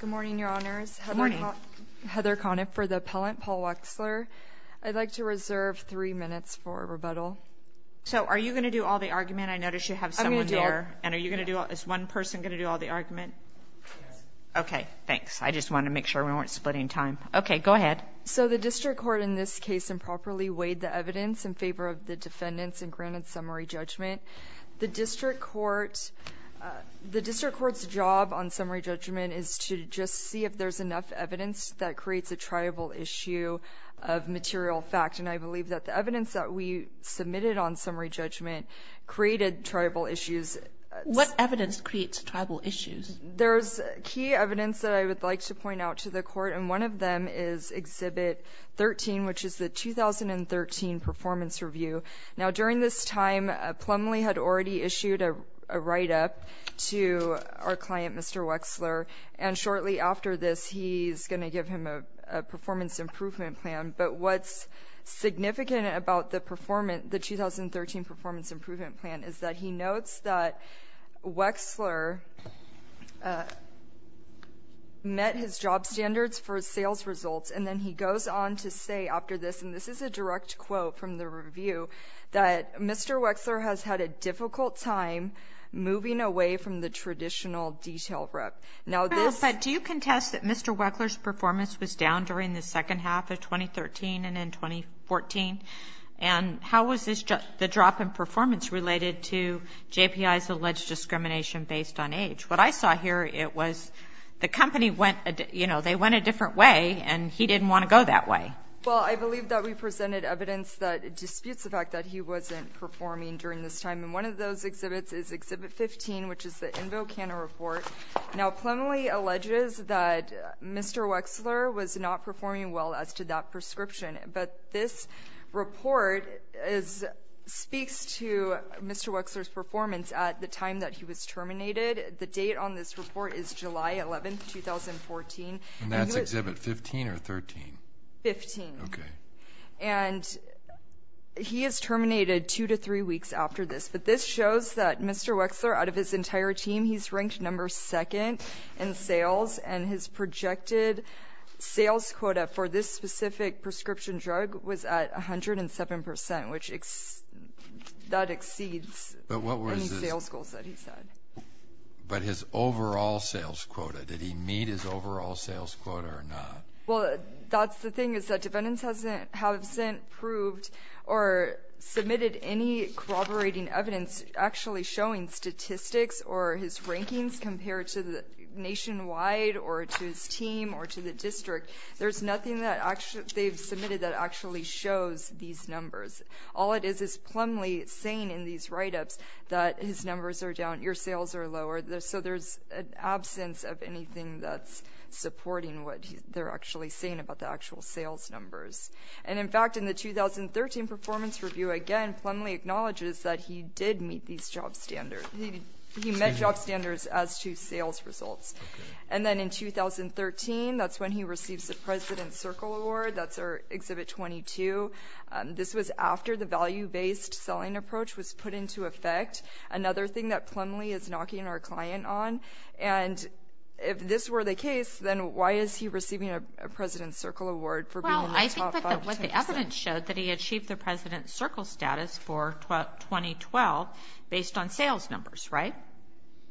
Good morning, Your Honors. Heather Conniff for the appellant, Paul Wexler. I'd like to reserve three minutes for rebuttal. So are you going to do all the argument? I noticed you have someone there. I'm going to do it. Is one person going to do all the argument? Okay, thanks. I just wanted to make sure we weren't splitting time. Okay, go ahead. So the District Court in this case improperly weighed the evidence in favor of the defendants and granted summary judgment. The District Court's job on summary judgment is to just see if there's enough evidence that creates a triable issue of material fact. And I believe that the evidence that we submitted on summary judgment created triable issues. What evidence creates tribal issues? There's key evidence that I would like to point out to the court and one of them is Exhibit 13, which is the 2013 Performance Review. Now during this time Plumlee had already issued a write-up to our client Mr. Wexler and shortly after this he's going to give him a performance improvement plan. But what's significant about the performance, the 2013 performance improvement plan is that he notes that Wexler met his job standards for sales results and then he goes on to say after this, and this is a direct quote from the review, that Mr. Wexler has had a difficult time moving away from the traditional detail rep. Now this... But do you contest that Mr. Wexler's performance was down during the second half of 2013 and in 2014? And how was this just the drop in performance related to JPI's alleged discrimination based on age? What I saw here it was the company went, you know, they went a different way and he didn't want to go that way. Well I believe that we disputes the fact that he wasn't performing during this time and one of those exhibits is Exhibit 15, which is the InvoCana report. Now Plumlee alleges that Mr. Wexler was not performing well as to that prescription but this report speaks to Mr. Wexler's performance at the time that he was terminated. The date on this report is July 11, 2014. And that's Exhibit 15 or 13? 15. Okay. And he is terminated two to three weeks after this but this shows that Mr. Wexler, out of his entire team, he's ranked number second in sales and his projected sales quota for this specific prescription drug was at a hundred and seven percent, which exceeds any sales goals that he set. But his overall sales quota, did he meet his overall sales quota or not? Well that's the thing is that defendants hasn't proved or submitted any corroborating evidence actually showing statistics or his rankings compared to the nationwide or to his team or to the district. There's nothing that actually they've submitted that actually shows these numbers. All it is is Plumlee saying in these write-ups that his numbers are down, your sales are lower, so there's an absence of anything that's supporting what they're actually saying about the actual sales numbers. And in fact in the 2013 performance review again, Plumlee acknowledges that he did meet these job standards, he met job standards as to sales results. And then in 2013, that's when he receives the President's Circle Award, that's our Exhibit 22. This was after the value-based selling approach was put into effect. Another thing that Plumlee is knocking our client on, and if this were the case, then why is he receiving a President's Circle Award for being the top 5%? Well, I think that what the evidence showed that he achieved the President's Circle status for 2012 based on sales numbers, right?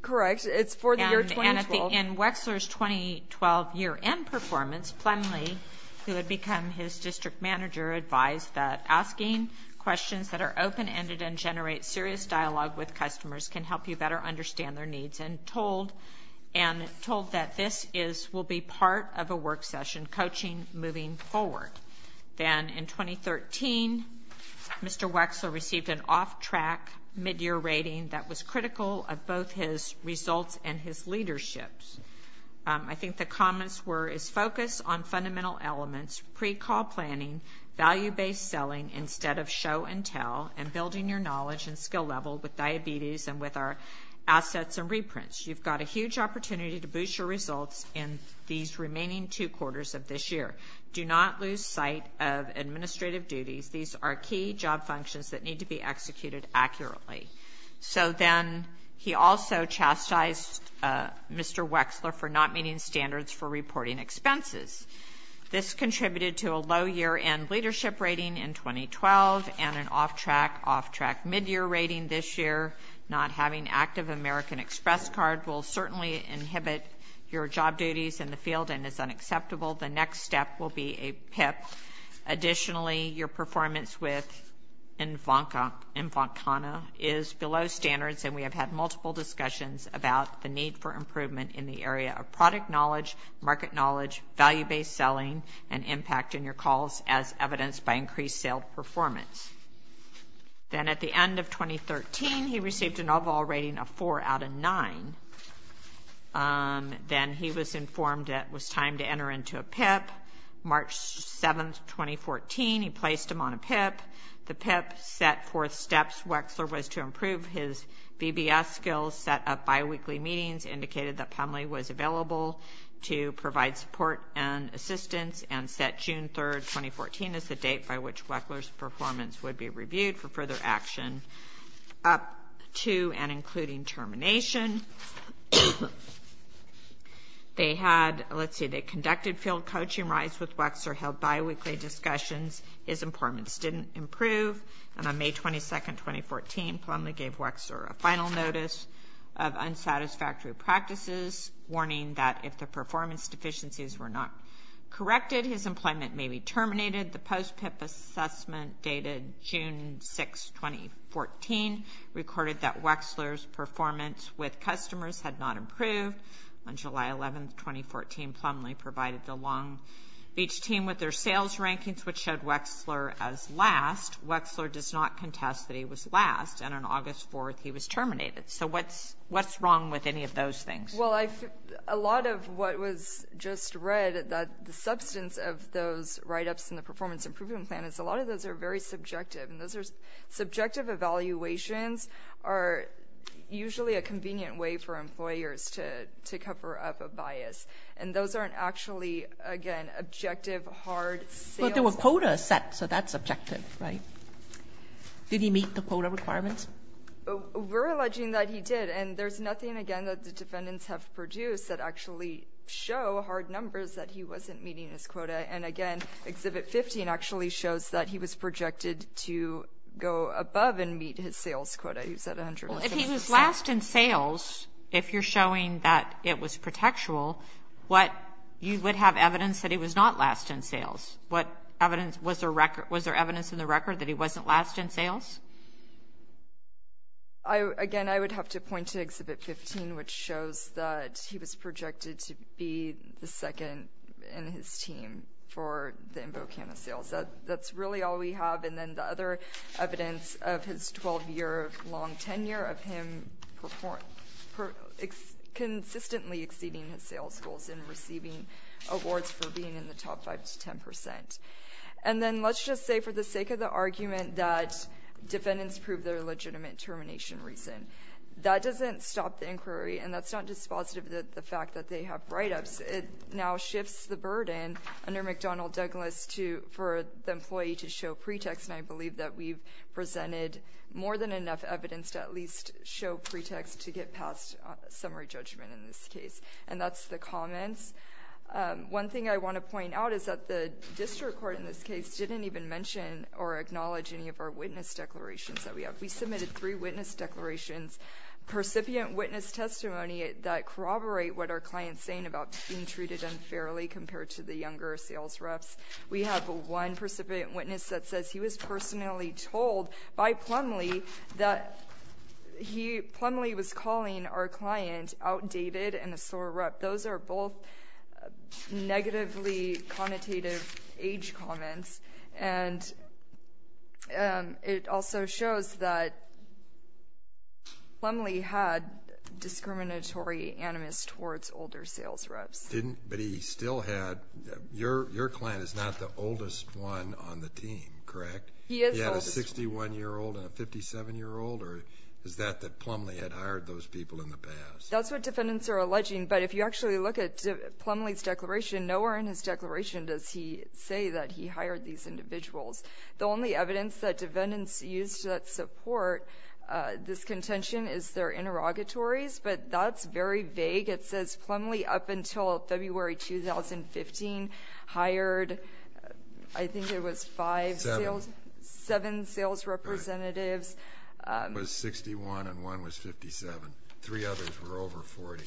Correct, it's for the year 2012. And in Wexler's 2012 year-end performance, Plumlee, who had become his district manager, advised that asking questions that are open-ended and generate serious dialogue with customers can help you better understand their needs, and told that this will be part of a work session coaching moving forward. Then in 2013, Mr. Wexler received an off-track mid-year rating that was critical of both his results and his leadership. I think the comments were his focus on fundamental elements, pre-call planning, value-based selling instead of show-and-tell, and building your knowledge and skill level with reprints. You've got a huge opportunity to boost your results in these remaining two quarters of this year. Do not lose sight of administrative duties. These are key job functions that need to be executed accurately. So then he also chastised Mr. Wexler for not meeting standards for reporting expenses. This contributed to a low year-end leadership rating in 2012 and an off-track, off-track mid-year rating this year. Not having active American Express card will certainly inhibit your job duties in the field and is unacceptable. The next step will be a PIP. Additionally, your performance with Invoncana is below standards, and we have had multiple discussions about the need for improvement in the area of product knowledge, market knowledge, value-based selling, and impact in your calls as evidenced by increased sales performance. Then at the end of 2013, he received an overall rating of four out of nine. Then he was informed it was time to enter into a PIP. March 7, 2014, he placed him on a PIP. The PIP set forth steps. Wexler was to improve his VBS skills, set up bi-weekly meetings, indicated that Pumley was available to provide support and would be reviewed for further action up to and including termination. They had, let's see, they conducted field coaching rides with Wexler, held bi-weekly discussions. His performance didn't improve. And on May 22, 2014, Pumley gave Wexler a final notice of unsatisfactory practices, warning that if the performance deficiencies were not corrected, his employment may be suspended. June 6, 2014, recorded that Wexler's performance with customers had not improved. On July 11, 2014, Pumley provided the Long Beach team with their sales rankings, which showed Wexler as last. Wexler does not contest that he was last. And on August 4, he was terminated. So what's wrong with any of those things? Well, a lot of what was just read, the substance of those write-ups in the subjective evaluations are usually a convenient way for employers to cover up a bias. And those aren't actually, again, objective, hard sales— But there were quotas set, so that's objective, right? Did he meet the quota requirements? We're alleging that he did. And there's nothing, again, that the defendants have produced that actually show hard numbers that he wasn't meeting his sales quota. If he was last in sales, if you're showing that it was protectual, you would have evidence that he was not last in sales. Was there evidence in the record that he wasn't last in sales? Again, I would have to point to Exhibit 15, which shows that he was projected to be the second in his team for the InvoCana sales. That's really all we have. And then the other evidence of his 12-year-long tenure of him consistently exceeding his sales goals and receiving awards for being in the top 5 to 10 percent. And then let's just say for the sake of the argument that defendants proved their legitimate termination reason, that doesn't stop the inquiry, and that's not dispositive of the fact that they have write-ups. It now that we've presented more than enough evidence to at least show pretext to get past summary judgment in this case. And that's the comments. One thing I want to point out is that the district court in this case didn't even mention or acknowledge any of our witness declarations that we have. We submitted three witness declarations, percipient witness testimony that corroborate what our client is saying about being treated unfairly compared to the younger sales reps. We have one precipitant witness that says he was personally told by Plumlee that he... Plumlee was calling our client outdated and a sore rep. Those are both negatively connotative age comments. And it also shows that Plumlee had discriminatory animus towards older sales reps. Didn't... but he still had... your client is not the oldest one on the team, correct? He had a 61-year-old and a 57-year-old, or is that that Plumlee had hired those people in the past? That's what defendants are alleging, but if you actually look at Plumlee's declaration, nowhere in his declaration does he say that he hired these individuals. The only evidence that defendants used that support this contention is their interrogatories, but that's very vague. It says Plumlee up until February 2015 hired, I think it was five sales... seven sales representatives. It was 61 and one was 57. Three others were over 40.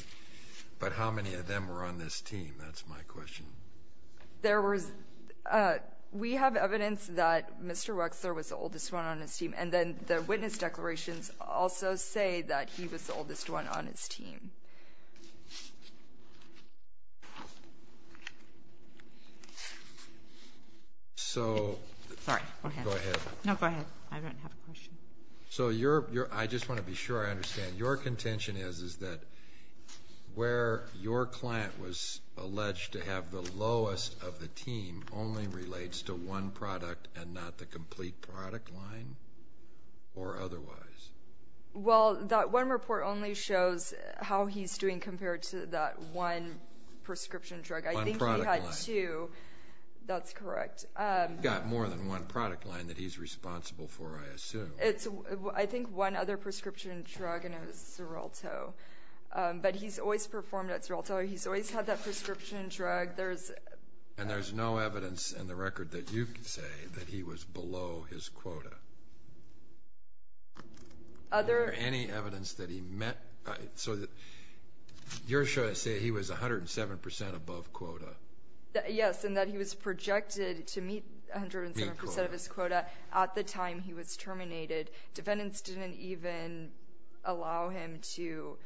But how many of them were on this team? That's my question. There was... we have evidence that Mr. Wexler was the oldest one on his team, and then the witness declarations also say that he was the oldest one on his team. So... Sorry, go ahead. Go ahead. No, go ahead. I don't have a question. So your... I just want to be sure I understand. Your contention is that where your client was alleged to have the lowest of the team only relates to one product and not the complete product line or otherwise? Well, that one report only shows how he's doing compared to that one prescription drug. One product line. I think he had two. That's correct. He's got more than one product line that he's responsible for, I assume. It's, I think, one other prescription drug, and it was Xarelto. But he's always performed at Xarelto. He's always had that prescription drug. There's... And there's no evidence in the record that you can say that he was below his quota? Other... Or any evidence that he met... So you're sure to say he was 107 percent above quota? Yes, and that he was projected to meet 107 percent of his quota at the time he was terminated. Defendants didn't even allow him to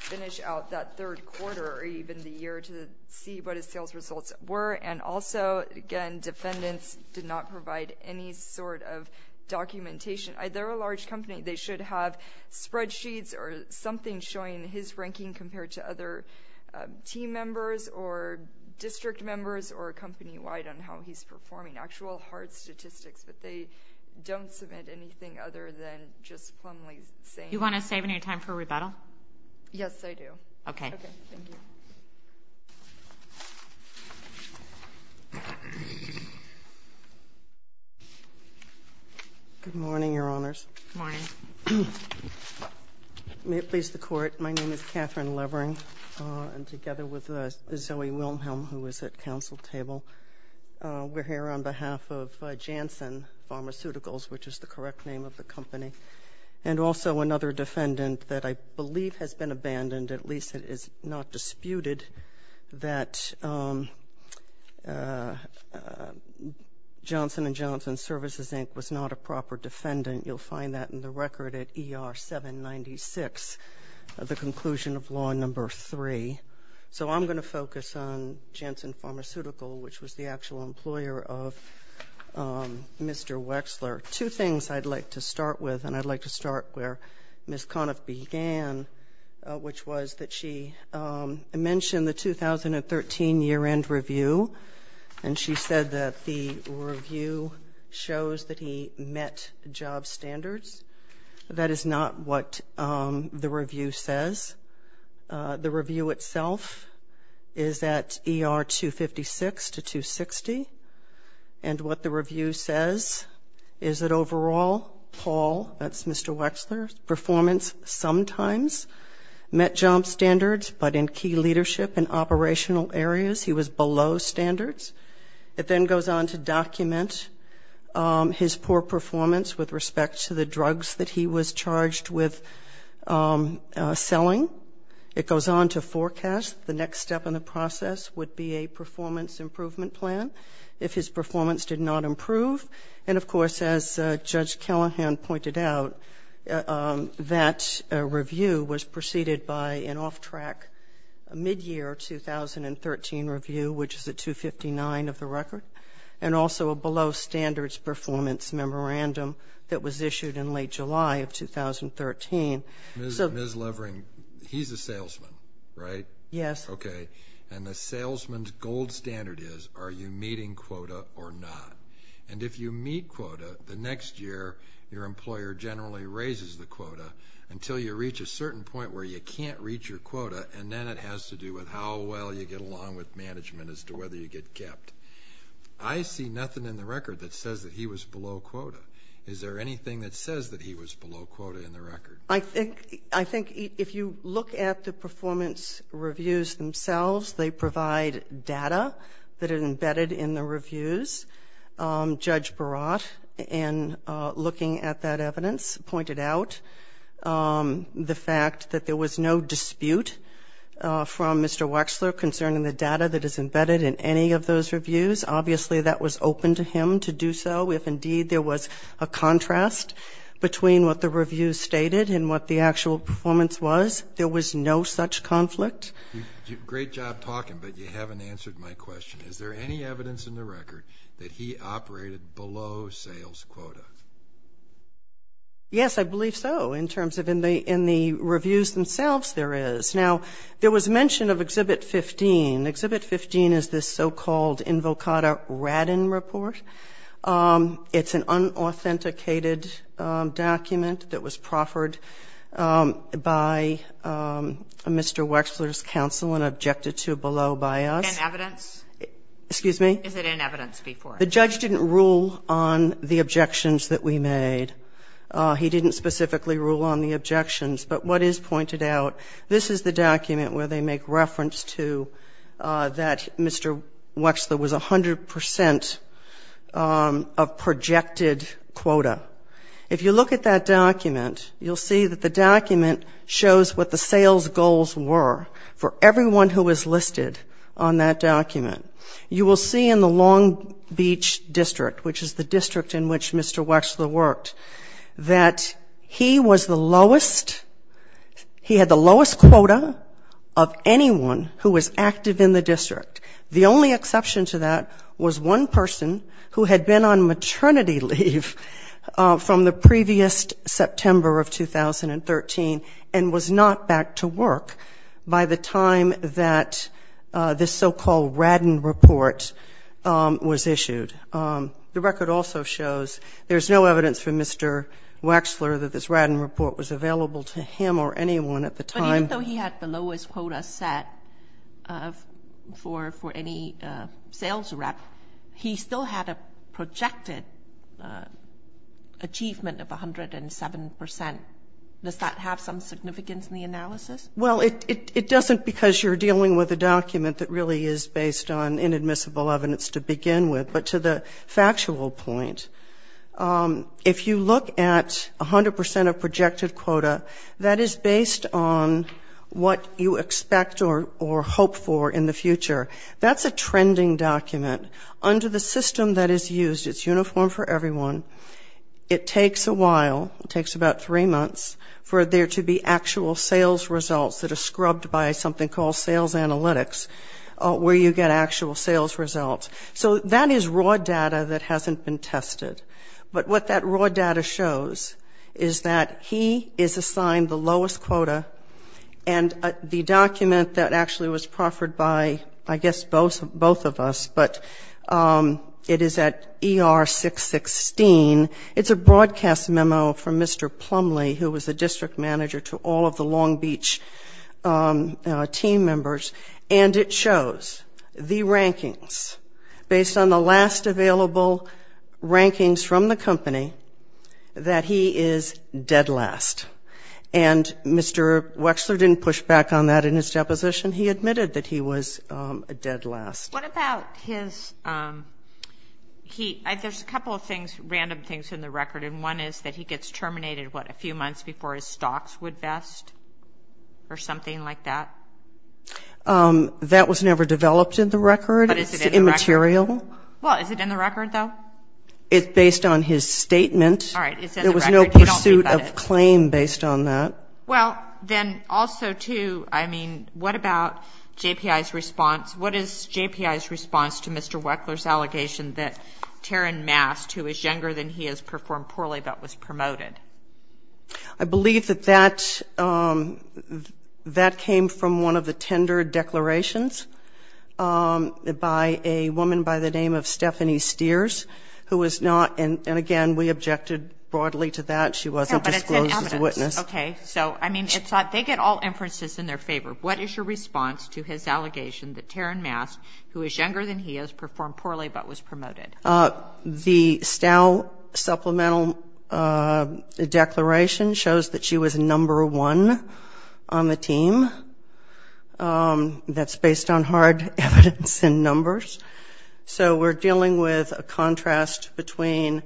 finish out that third quarter or even the year to see what his sales results were. And also, again, they did not provide any sort of documentation. They're a large company. They should have spreadsheets or something showing his ranking compared to other team members or district members or company-wide on how he's performing. Actual hard statistics, but they don't submit anything other than just plainly saying... Do you want to save any time for rebuttal? Yes, I do. Okay. Okay. Thank you. Good morning, Your Honors. Good morning. May it please the Court, my name is Catherine Levering. I'm together with Zoe Wilhelm, who is at counsel table. We're here on behalf of Janssen Pharmaceuticals, which is the correct name of the company, and also another defendant that I believe has been abandoned. At least it is not disputed that Johnson & Johnson Services, Inc. was not a proper defendant. You'll find that in the record at ER 796, the conclusion of law number 3. So I'm going to focus on Janssen Pharmaceuticals, which was the actual employer of Mr. Wexler. Two things I'd like to start with, and I'd like to start where Ms. year-end review, and she said that the review shows that he met job standards. That is not what the review says. The review itself is at ER 256 to 260, and what the review says is that overall, Paul, that's Mr. Wexler's performance, sometimes met job standards, but in key leadership and operational areas, he was below standards. It then goes on to document his poor performance with respect to the drugs that he was charged with selling. It goes on to forecast the next step in the process would be a performance improvement plan if his was preceded by an off-track mid-year 2013 review, which is at 259 of the record, and also a below-standards performance memorandum that was issued in late July of 2013. Ms. Levering, he's a salesman, right? Yes. Okay. And the salesman's gold standard is, are you meeting quota or not? And if you meet quota, the next year, your employer generally raises the quota until you reach a certain point where you can't reach your quota, and then it has to do with how well you get along with management as to whether you get kept. I see nothing in the record that says that he was below quota. Is there anything that says that he was below quota in the record? I think if you look at the performance reviews themselves, they provide data that is embedded in the reviews. Judge Barat, in looking at that evidence, pointed out the fact that there was no dispute from Mr. Wexler concerning the data that is embedded in any of those reviews. Obviously, that was open to him to do so. If, indeed, there was a contrast between what the review stated and what the actual performance was, there was no such conflict. Great job talking, but you haven't answered my question. Is there any evidence in the record that he operated below sales quota? Yes, I believe so, in terms of in the reviews themselves, there is. Now, there was mention of Exhibit 15. Exhibit 15 is this so-called Invocata Radin report. It's an unauthenticated document that was proffered by Mr. Wexler's counsel and objected to below by us. In evidence? Excuse me? Is it in evidence before? The judge didn't rule on the objections that we made. He didn't specifically rule on the objections, but what is pointed out, this is the document where they make reference to that Mr. Wexler was 100% of projected quota. If you look at that document, you'll see that the document shows what the sales goals were for everyone who was listed on that document. You will see in the Long Beach District, which is the district in which Mr. Wexler worked, that he was the lowest quota of anyone who was active in the district. The only exception to that was one person who had been on maternity leave from the previous September of 2013 and was not back to work by the time that this so-called Radin report was issued. The record also shows there is no evidence from Mr. Wexler that this Radin report was available to him or anyone at the time. But even though he had the lowest quota set for any sales rep, he still had a projected achievement of 107%. Does that have some significance in the analysis? Well, it doesn't because you're dealing with a document that really is based on inadmissible evidence to begin with. But to the factual point, if you look at 100% of projected quota, that is based on what you expect or hope for in the future. That's a trending document. Under the system that is used, it's uniform for everyone, it takes a while, it takes about three months for there to be actual sales results that are scrubbed by something called sales analytics, where you get actual sales results. So that is raw data that hasn't been tested. But what that raw data shows is that he is assigned the lowest quota, and the document that actually was proffered by I guess both of us, but it is at ER 616, it's a broadcast memo from Mr. Plumlee, who was the district manager to all of the Long Beach team members, and it shows the rankings based on the last available rankings from the company that he is dead last. And Mr. Wechsler didn't push back on that in his deposition. He admitted that he was dead last. What about his heat? There's a couple of things, random things in the record, and one is that he gets terminated, what, a few months before his stocks would vest or something like that? That was never developed in the record. It's immaterial. Well, is it in the record, though? It's based on his statement. There was no pursuit of claim based on that. Well, then also, too, I mean, what about JPI's response? What is JPI's response to Mr. Wechsler's allegation that Taryn Mast, who is younger than he, has performed poorly, but was promoted? The Stow Supplemental Declaration shows that she was number one on the team. And I don't know if it's in the record, but it's in the record. That's based on hard evidence and numbers. So we're dealing with a contrast between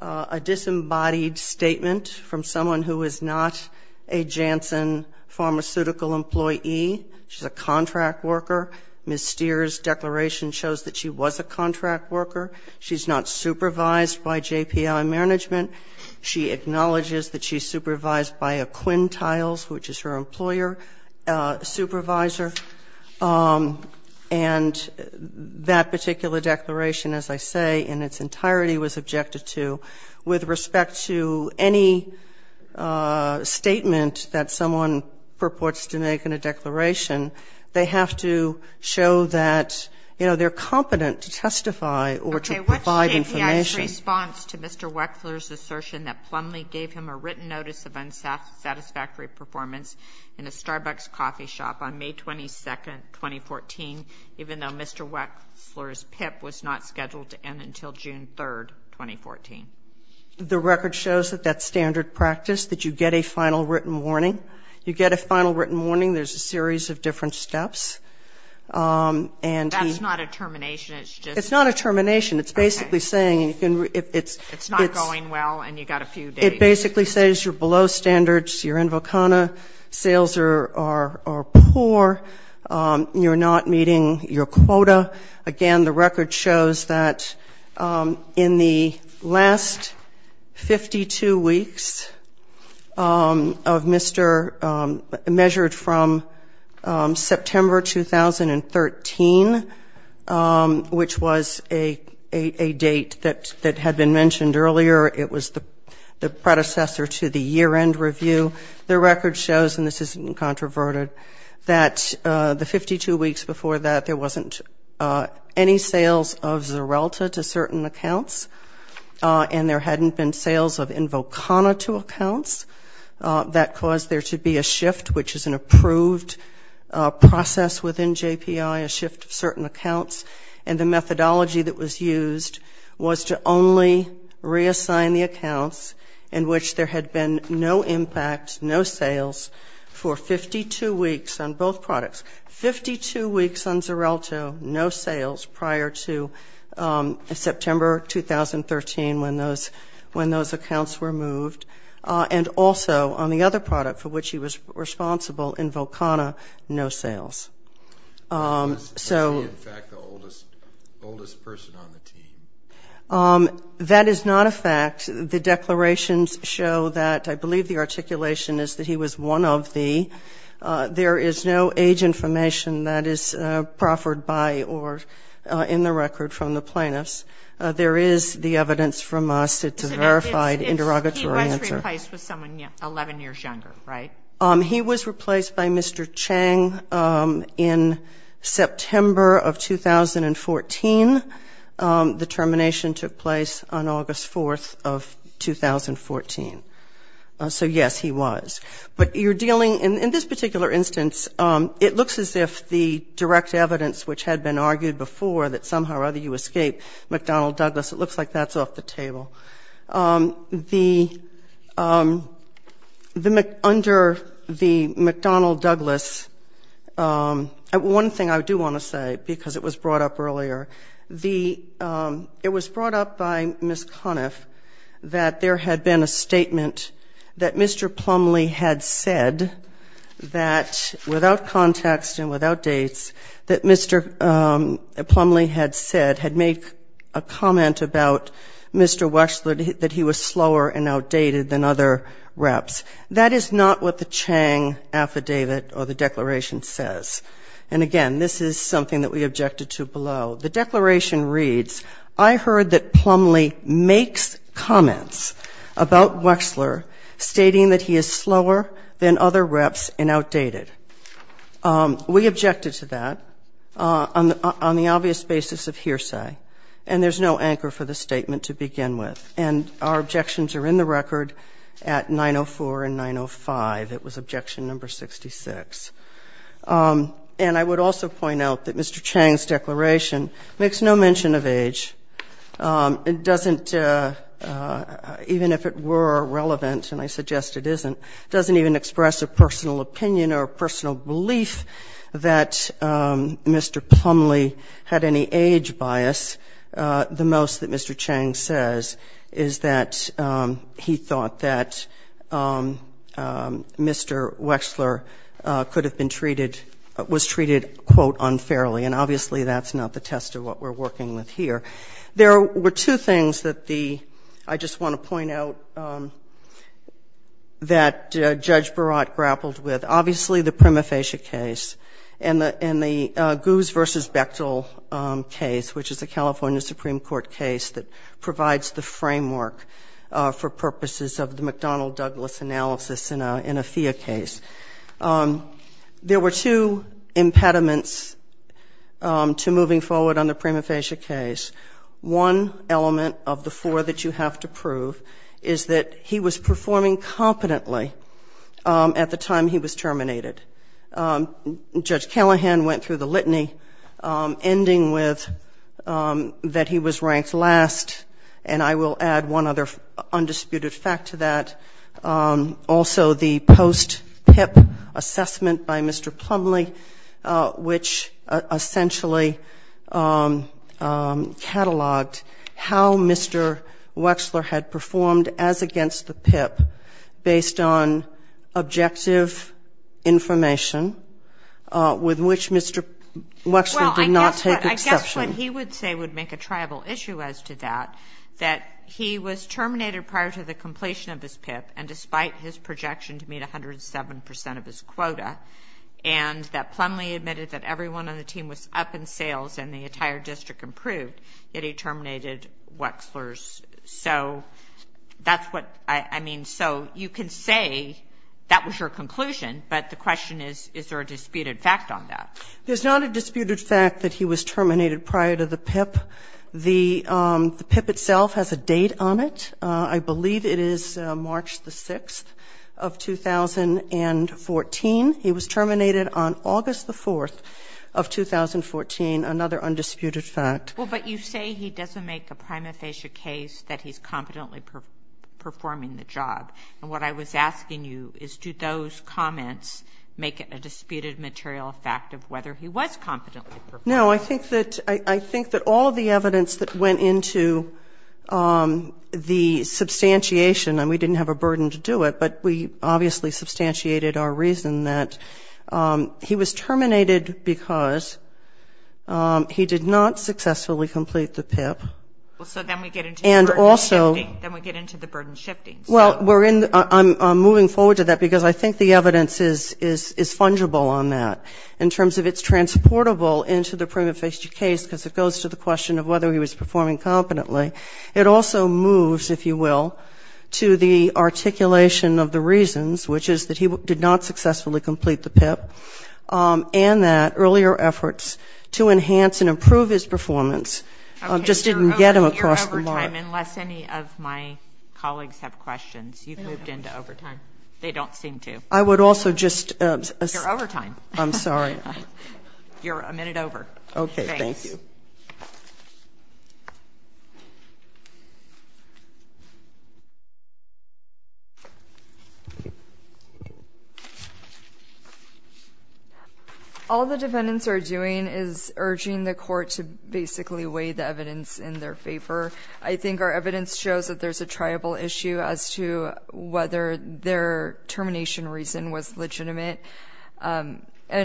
a disembodied statement from someone who is not a Janssen pharmaceutical employee. She's a contract worker. Ms. Stier's declaration shows that she was a contract worker. She's not supervised by JPI management. She acknowledges that she's supervised by a Quintiles, which is her employer, supervisor. And that particular declaration, as I say, in its entirety was objected to. With respect to any statement that someone purports to make in a declaration, they have to show that, you know, they're competent to testify or to provide information. Okay. What's JPI's response to Mr. Wechsler's assertion that Plumlee gave him a written notice of unsatisfactory performance in a Starbucks coffee shop on May 22nd, 2014, even though Mr. Wechsler's PIP was not scheduled to end until June 3rd, 2014? The record shows that that's standard practice, that you get a final written warning. You get a final written warning. There's a series of different steps. That's not a termination. It's just a... Sales are poor. You're not meeting your quota. Again, the record shows that in the last 52 weeks of Mr. measured from September 2013, which was a date that had been mentioned earlier. It was the predecessor to the year-end review. The record shows, and this isn't controverted, that the 52 weeks before that, there wasn't any sales of Xarelta to certain accounts, and there hadn't been sales of Invokana to accounts. That caused there to be a shift, which is an approved process within JPI, a shift of certain accounts, and the methodology that was used was to only reassign the accounts in which there had been no impact, no sales for 52 weeks on both products. Fifty-two weeks on Xarelta, no sales prior to September 2013 when those accounts were moved, and also on the other product for which he was responsible, Invokana, no sales. So... The declarations show that, I believe the articulation is that he was one of the... There is no age information that is proffered by or in the record from the plaintiffs. There is the evidence from us. It's a verified interrogatory answer. He was replaced with someone 11 years younger, right? He was replaced by Mr. Chang in September of 2014. The termination took place on August 4th of 2014. So, yes, he was. But you're dealing... In this particular instance, it looks as if the direct evidence, which had been argued before that somehow or other you escape McDonnell Douglas, it looks like that's off the table. Under the McDonnell Douglas, one thing I do want to say, because it was brought up earlier, the... It was brought up by Ms. Coniff that there had been a statement that Mr. Plumlee had said that, without context and without dates, that Mr. Plumlee had said, had made a comment about Mr. Wechsler that he was slower and outdated than other reps. That is not what the Chang affidavit or the declaration says. And, again, this is something that we objected to below. The declaration reads, I heard that Plumlee makes comments about Wechsler stating that he is slower than other reps and outdated. We objected to that on the obvious basis of hearsay. And there's no anchor for the statement to begin with. And our objections are in the record at 904 and 905. It was objection number 66. And I would also point out that Mr. Chang's declaration makes no mention of age. It doesn't, even if it were relevant, and I suggest it isn't, doesn't even express a personal opinion or a personal belief that Mr. Plumlee had any age bias, the most that Mr. Chang says is that he thought that Mr. Wechsler could have been treated, was treated, quote, unfairly. And, obviously, that's not the test of what we're working with here. There were two things that the ‑‑ I just want to point out that Judge Burrott grappled with. Obviously, the prima facie case and the Goose v. Bechtel case, which is a California Supreme Court case that provides the framework for purposes of the McDonnell‑Douglas analysis in a FIA case. There were two impediments to moving forward on the prima facie case. One element of the four that you have to prove is that he was performing competently at the time he was terminated. Judge Callahan went through the litany, ending with that he was ranked last. And I will add one other undisputed fact to that, also the post‑PIP assessment by Mr. Plumlee, which essentially cataloged how Mr. Wechsler had performed as against the PIP, based on objective information, with which Mr. Wechsler did not take exception. Well, I guess what he would say would make a triable issue as to that, that he was terminated prior to the completion of his PIP, and despite his projection to meet 107 percent of his quota, and that Plumlee admitted that everyone on the team was up in sales and the entire district improved, yet he terminated Wechsler's. So you can say that was your conclusion, but the question is, is there a disputed fact on that? There's not a disputed fact that he was terminated prior to the PIP. The PIP itself has a date on it. I believe it is March the 6th of 2014. He was terminated on August the 4th of 2014, another undisputed fact. Well, but you say he doesn't make a prima facie case that he's competently performing the job. And what I was asking you is, do those comments make a disputed material fact of whether he was competently performing? No, I think that all of the evidence that went into the substantiation, and we didn't have a burden to do it, but we obviously substantiated our reason that he was terminated because he did not successfully complete the PIP. So then we get into the burden shifting. Well, I'm moving forward to that, because I think the evidence is fungible on that, in terms of it's transportable into the prima facie case, because it goes to the question of whether he was performing competently. It also moves, if you will, to the articulation of the reasons, which is that he did not successfully complete the PIP, and that earlier efforts to enhance and improve his performance just didn't get him across the line. Okay, you're overtime, unless any of my colleagues have questions. You've moved into overtime. They don't seem to. I would also just... You're overtime. I'm sorry. All the defendants are doing is urging the court to basically weigh the evidence in their favor. I think our evidence shows that there's a triable issue as to whether their termination reason was legitimate, and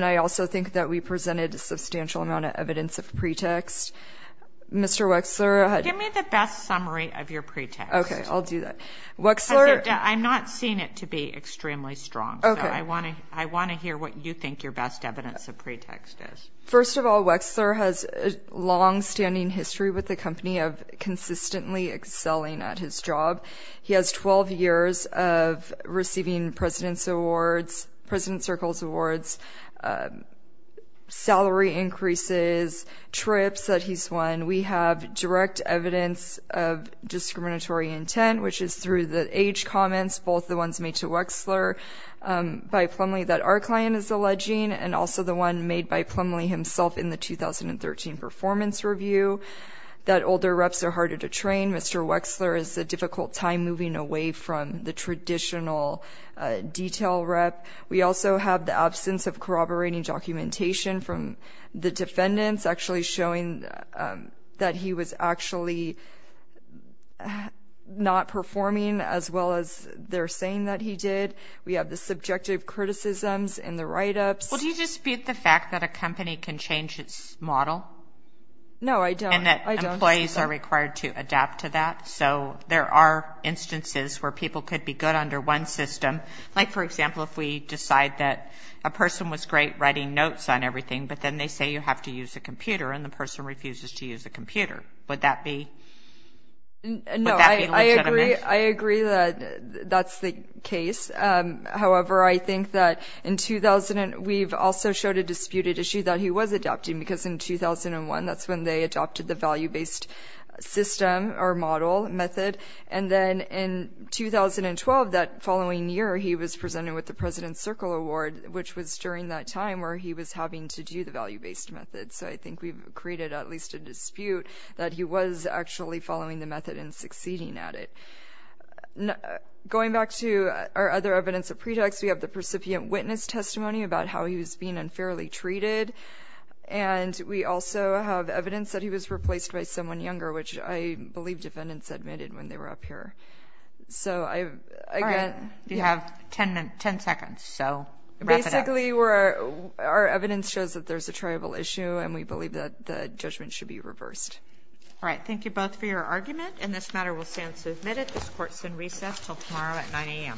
I also think that we presented a substantial amount of evidence of pretext. Mr. Wexler... Give me the best summary of your pretext. First of all, Wexler has a longstanding history with the company of consistently excelling at his job. He has 12 years of receiving President Circles Awards, salary increases, trips that he's won. We have direct evidence of discriminatory intent, which is through the age comments, both the ones made to Wexler by Plumlee that our client is alleging, and also the one made by Plumlee himself in the 2013 performance review, that older reps are harder to train. Mr. Wexler is a difficult time moving away from the traditional detail rep. We also have the absence of corroborating documentation from the defendants, actually showing that he was actually not performing, as well as they're saying that he did. We have the subjective criticisms in the write-ups. Well, do you dispute the fact that a company can change its model? No, I don't. And that employees are required to adapt to that? So there are instances where people could be good under one system. Like, for example, if we decide that a person was great writing notes on everything, but then they say you have to use a computer, and the person refuses to use a computer. Would that be legitimate? No, I agree that that's the case. However, I think that we've also showed a disputed issue that he was adapting, because in 2001, that's when they adopted the value-based system or model method. And then in 2012, that following year, he was presented with the President's Circle Award, which was during that time where he was having to do the value-based method. So I think we've created at least a dispute that he was actually following the method and succeeding at it. Going back to our other evidence of pretext, we have the percipient witness testimony about how he was being unfairly treated, and we also have evidence that he was replaced by someone younger, which I believe defendants admitted when they were up here. All right, you have 10 seconds, so wrap it up. Basically, our evidence shows that there's a tribal issue, and we believe that the judgment should be reversed. All right, thank you both for your argument, and this matter will stand submitted. This court is in recess until tomorrow at 9 a.m. Thank you.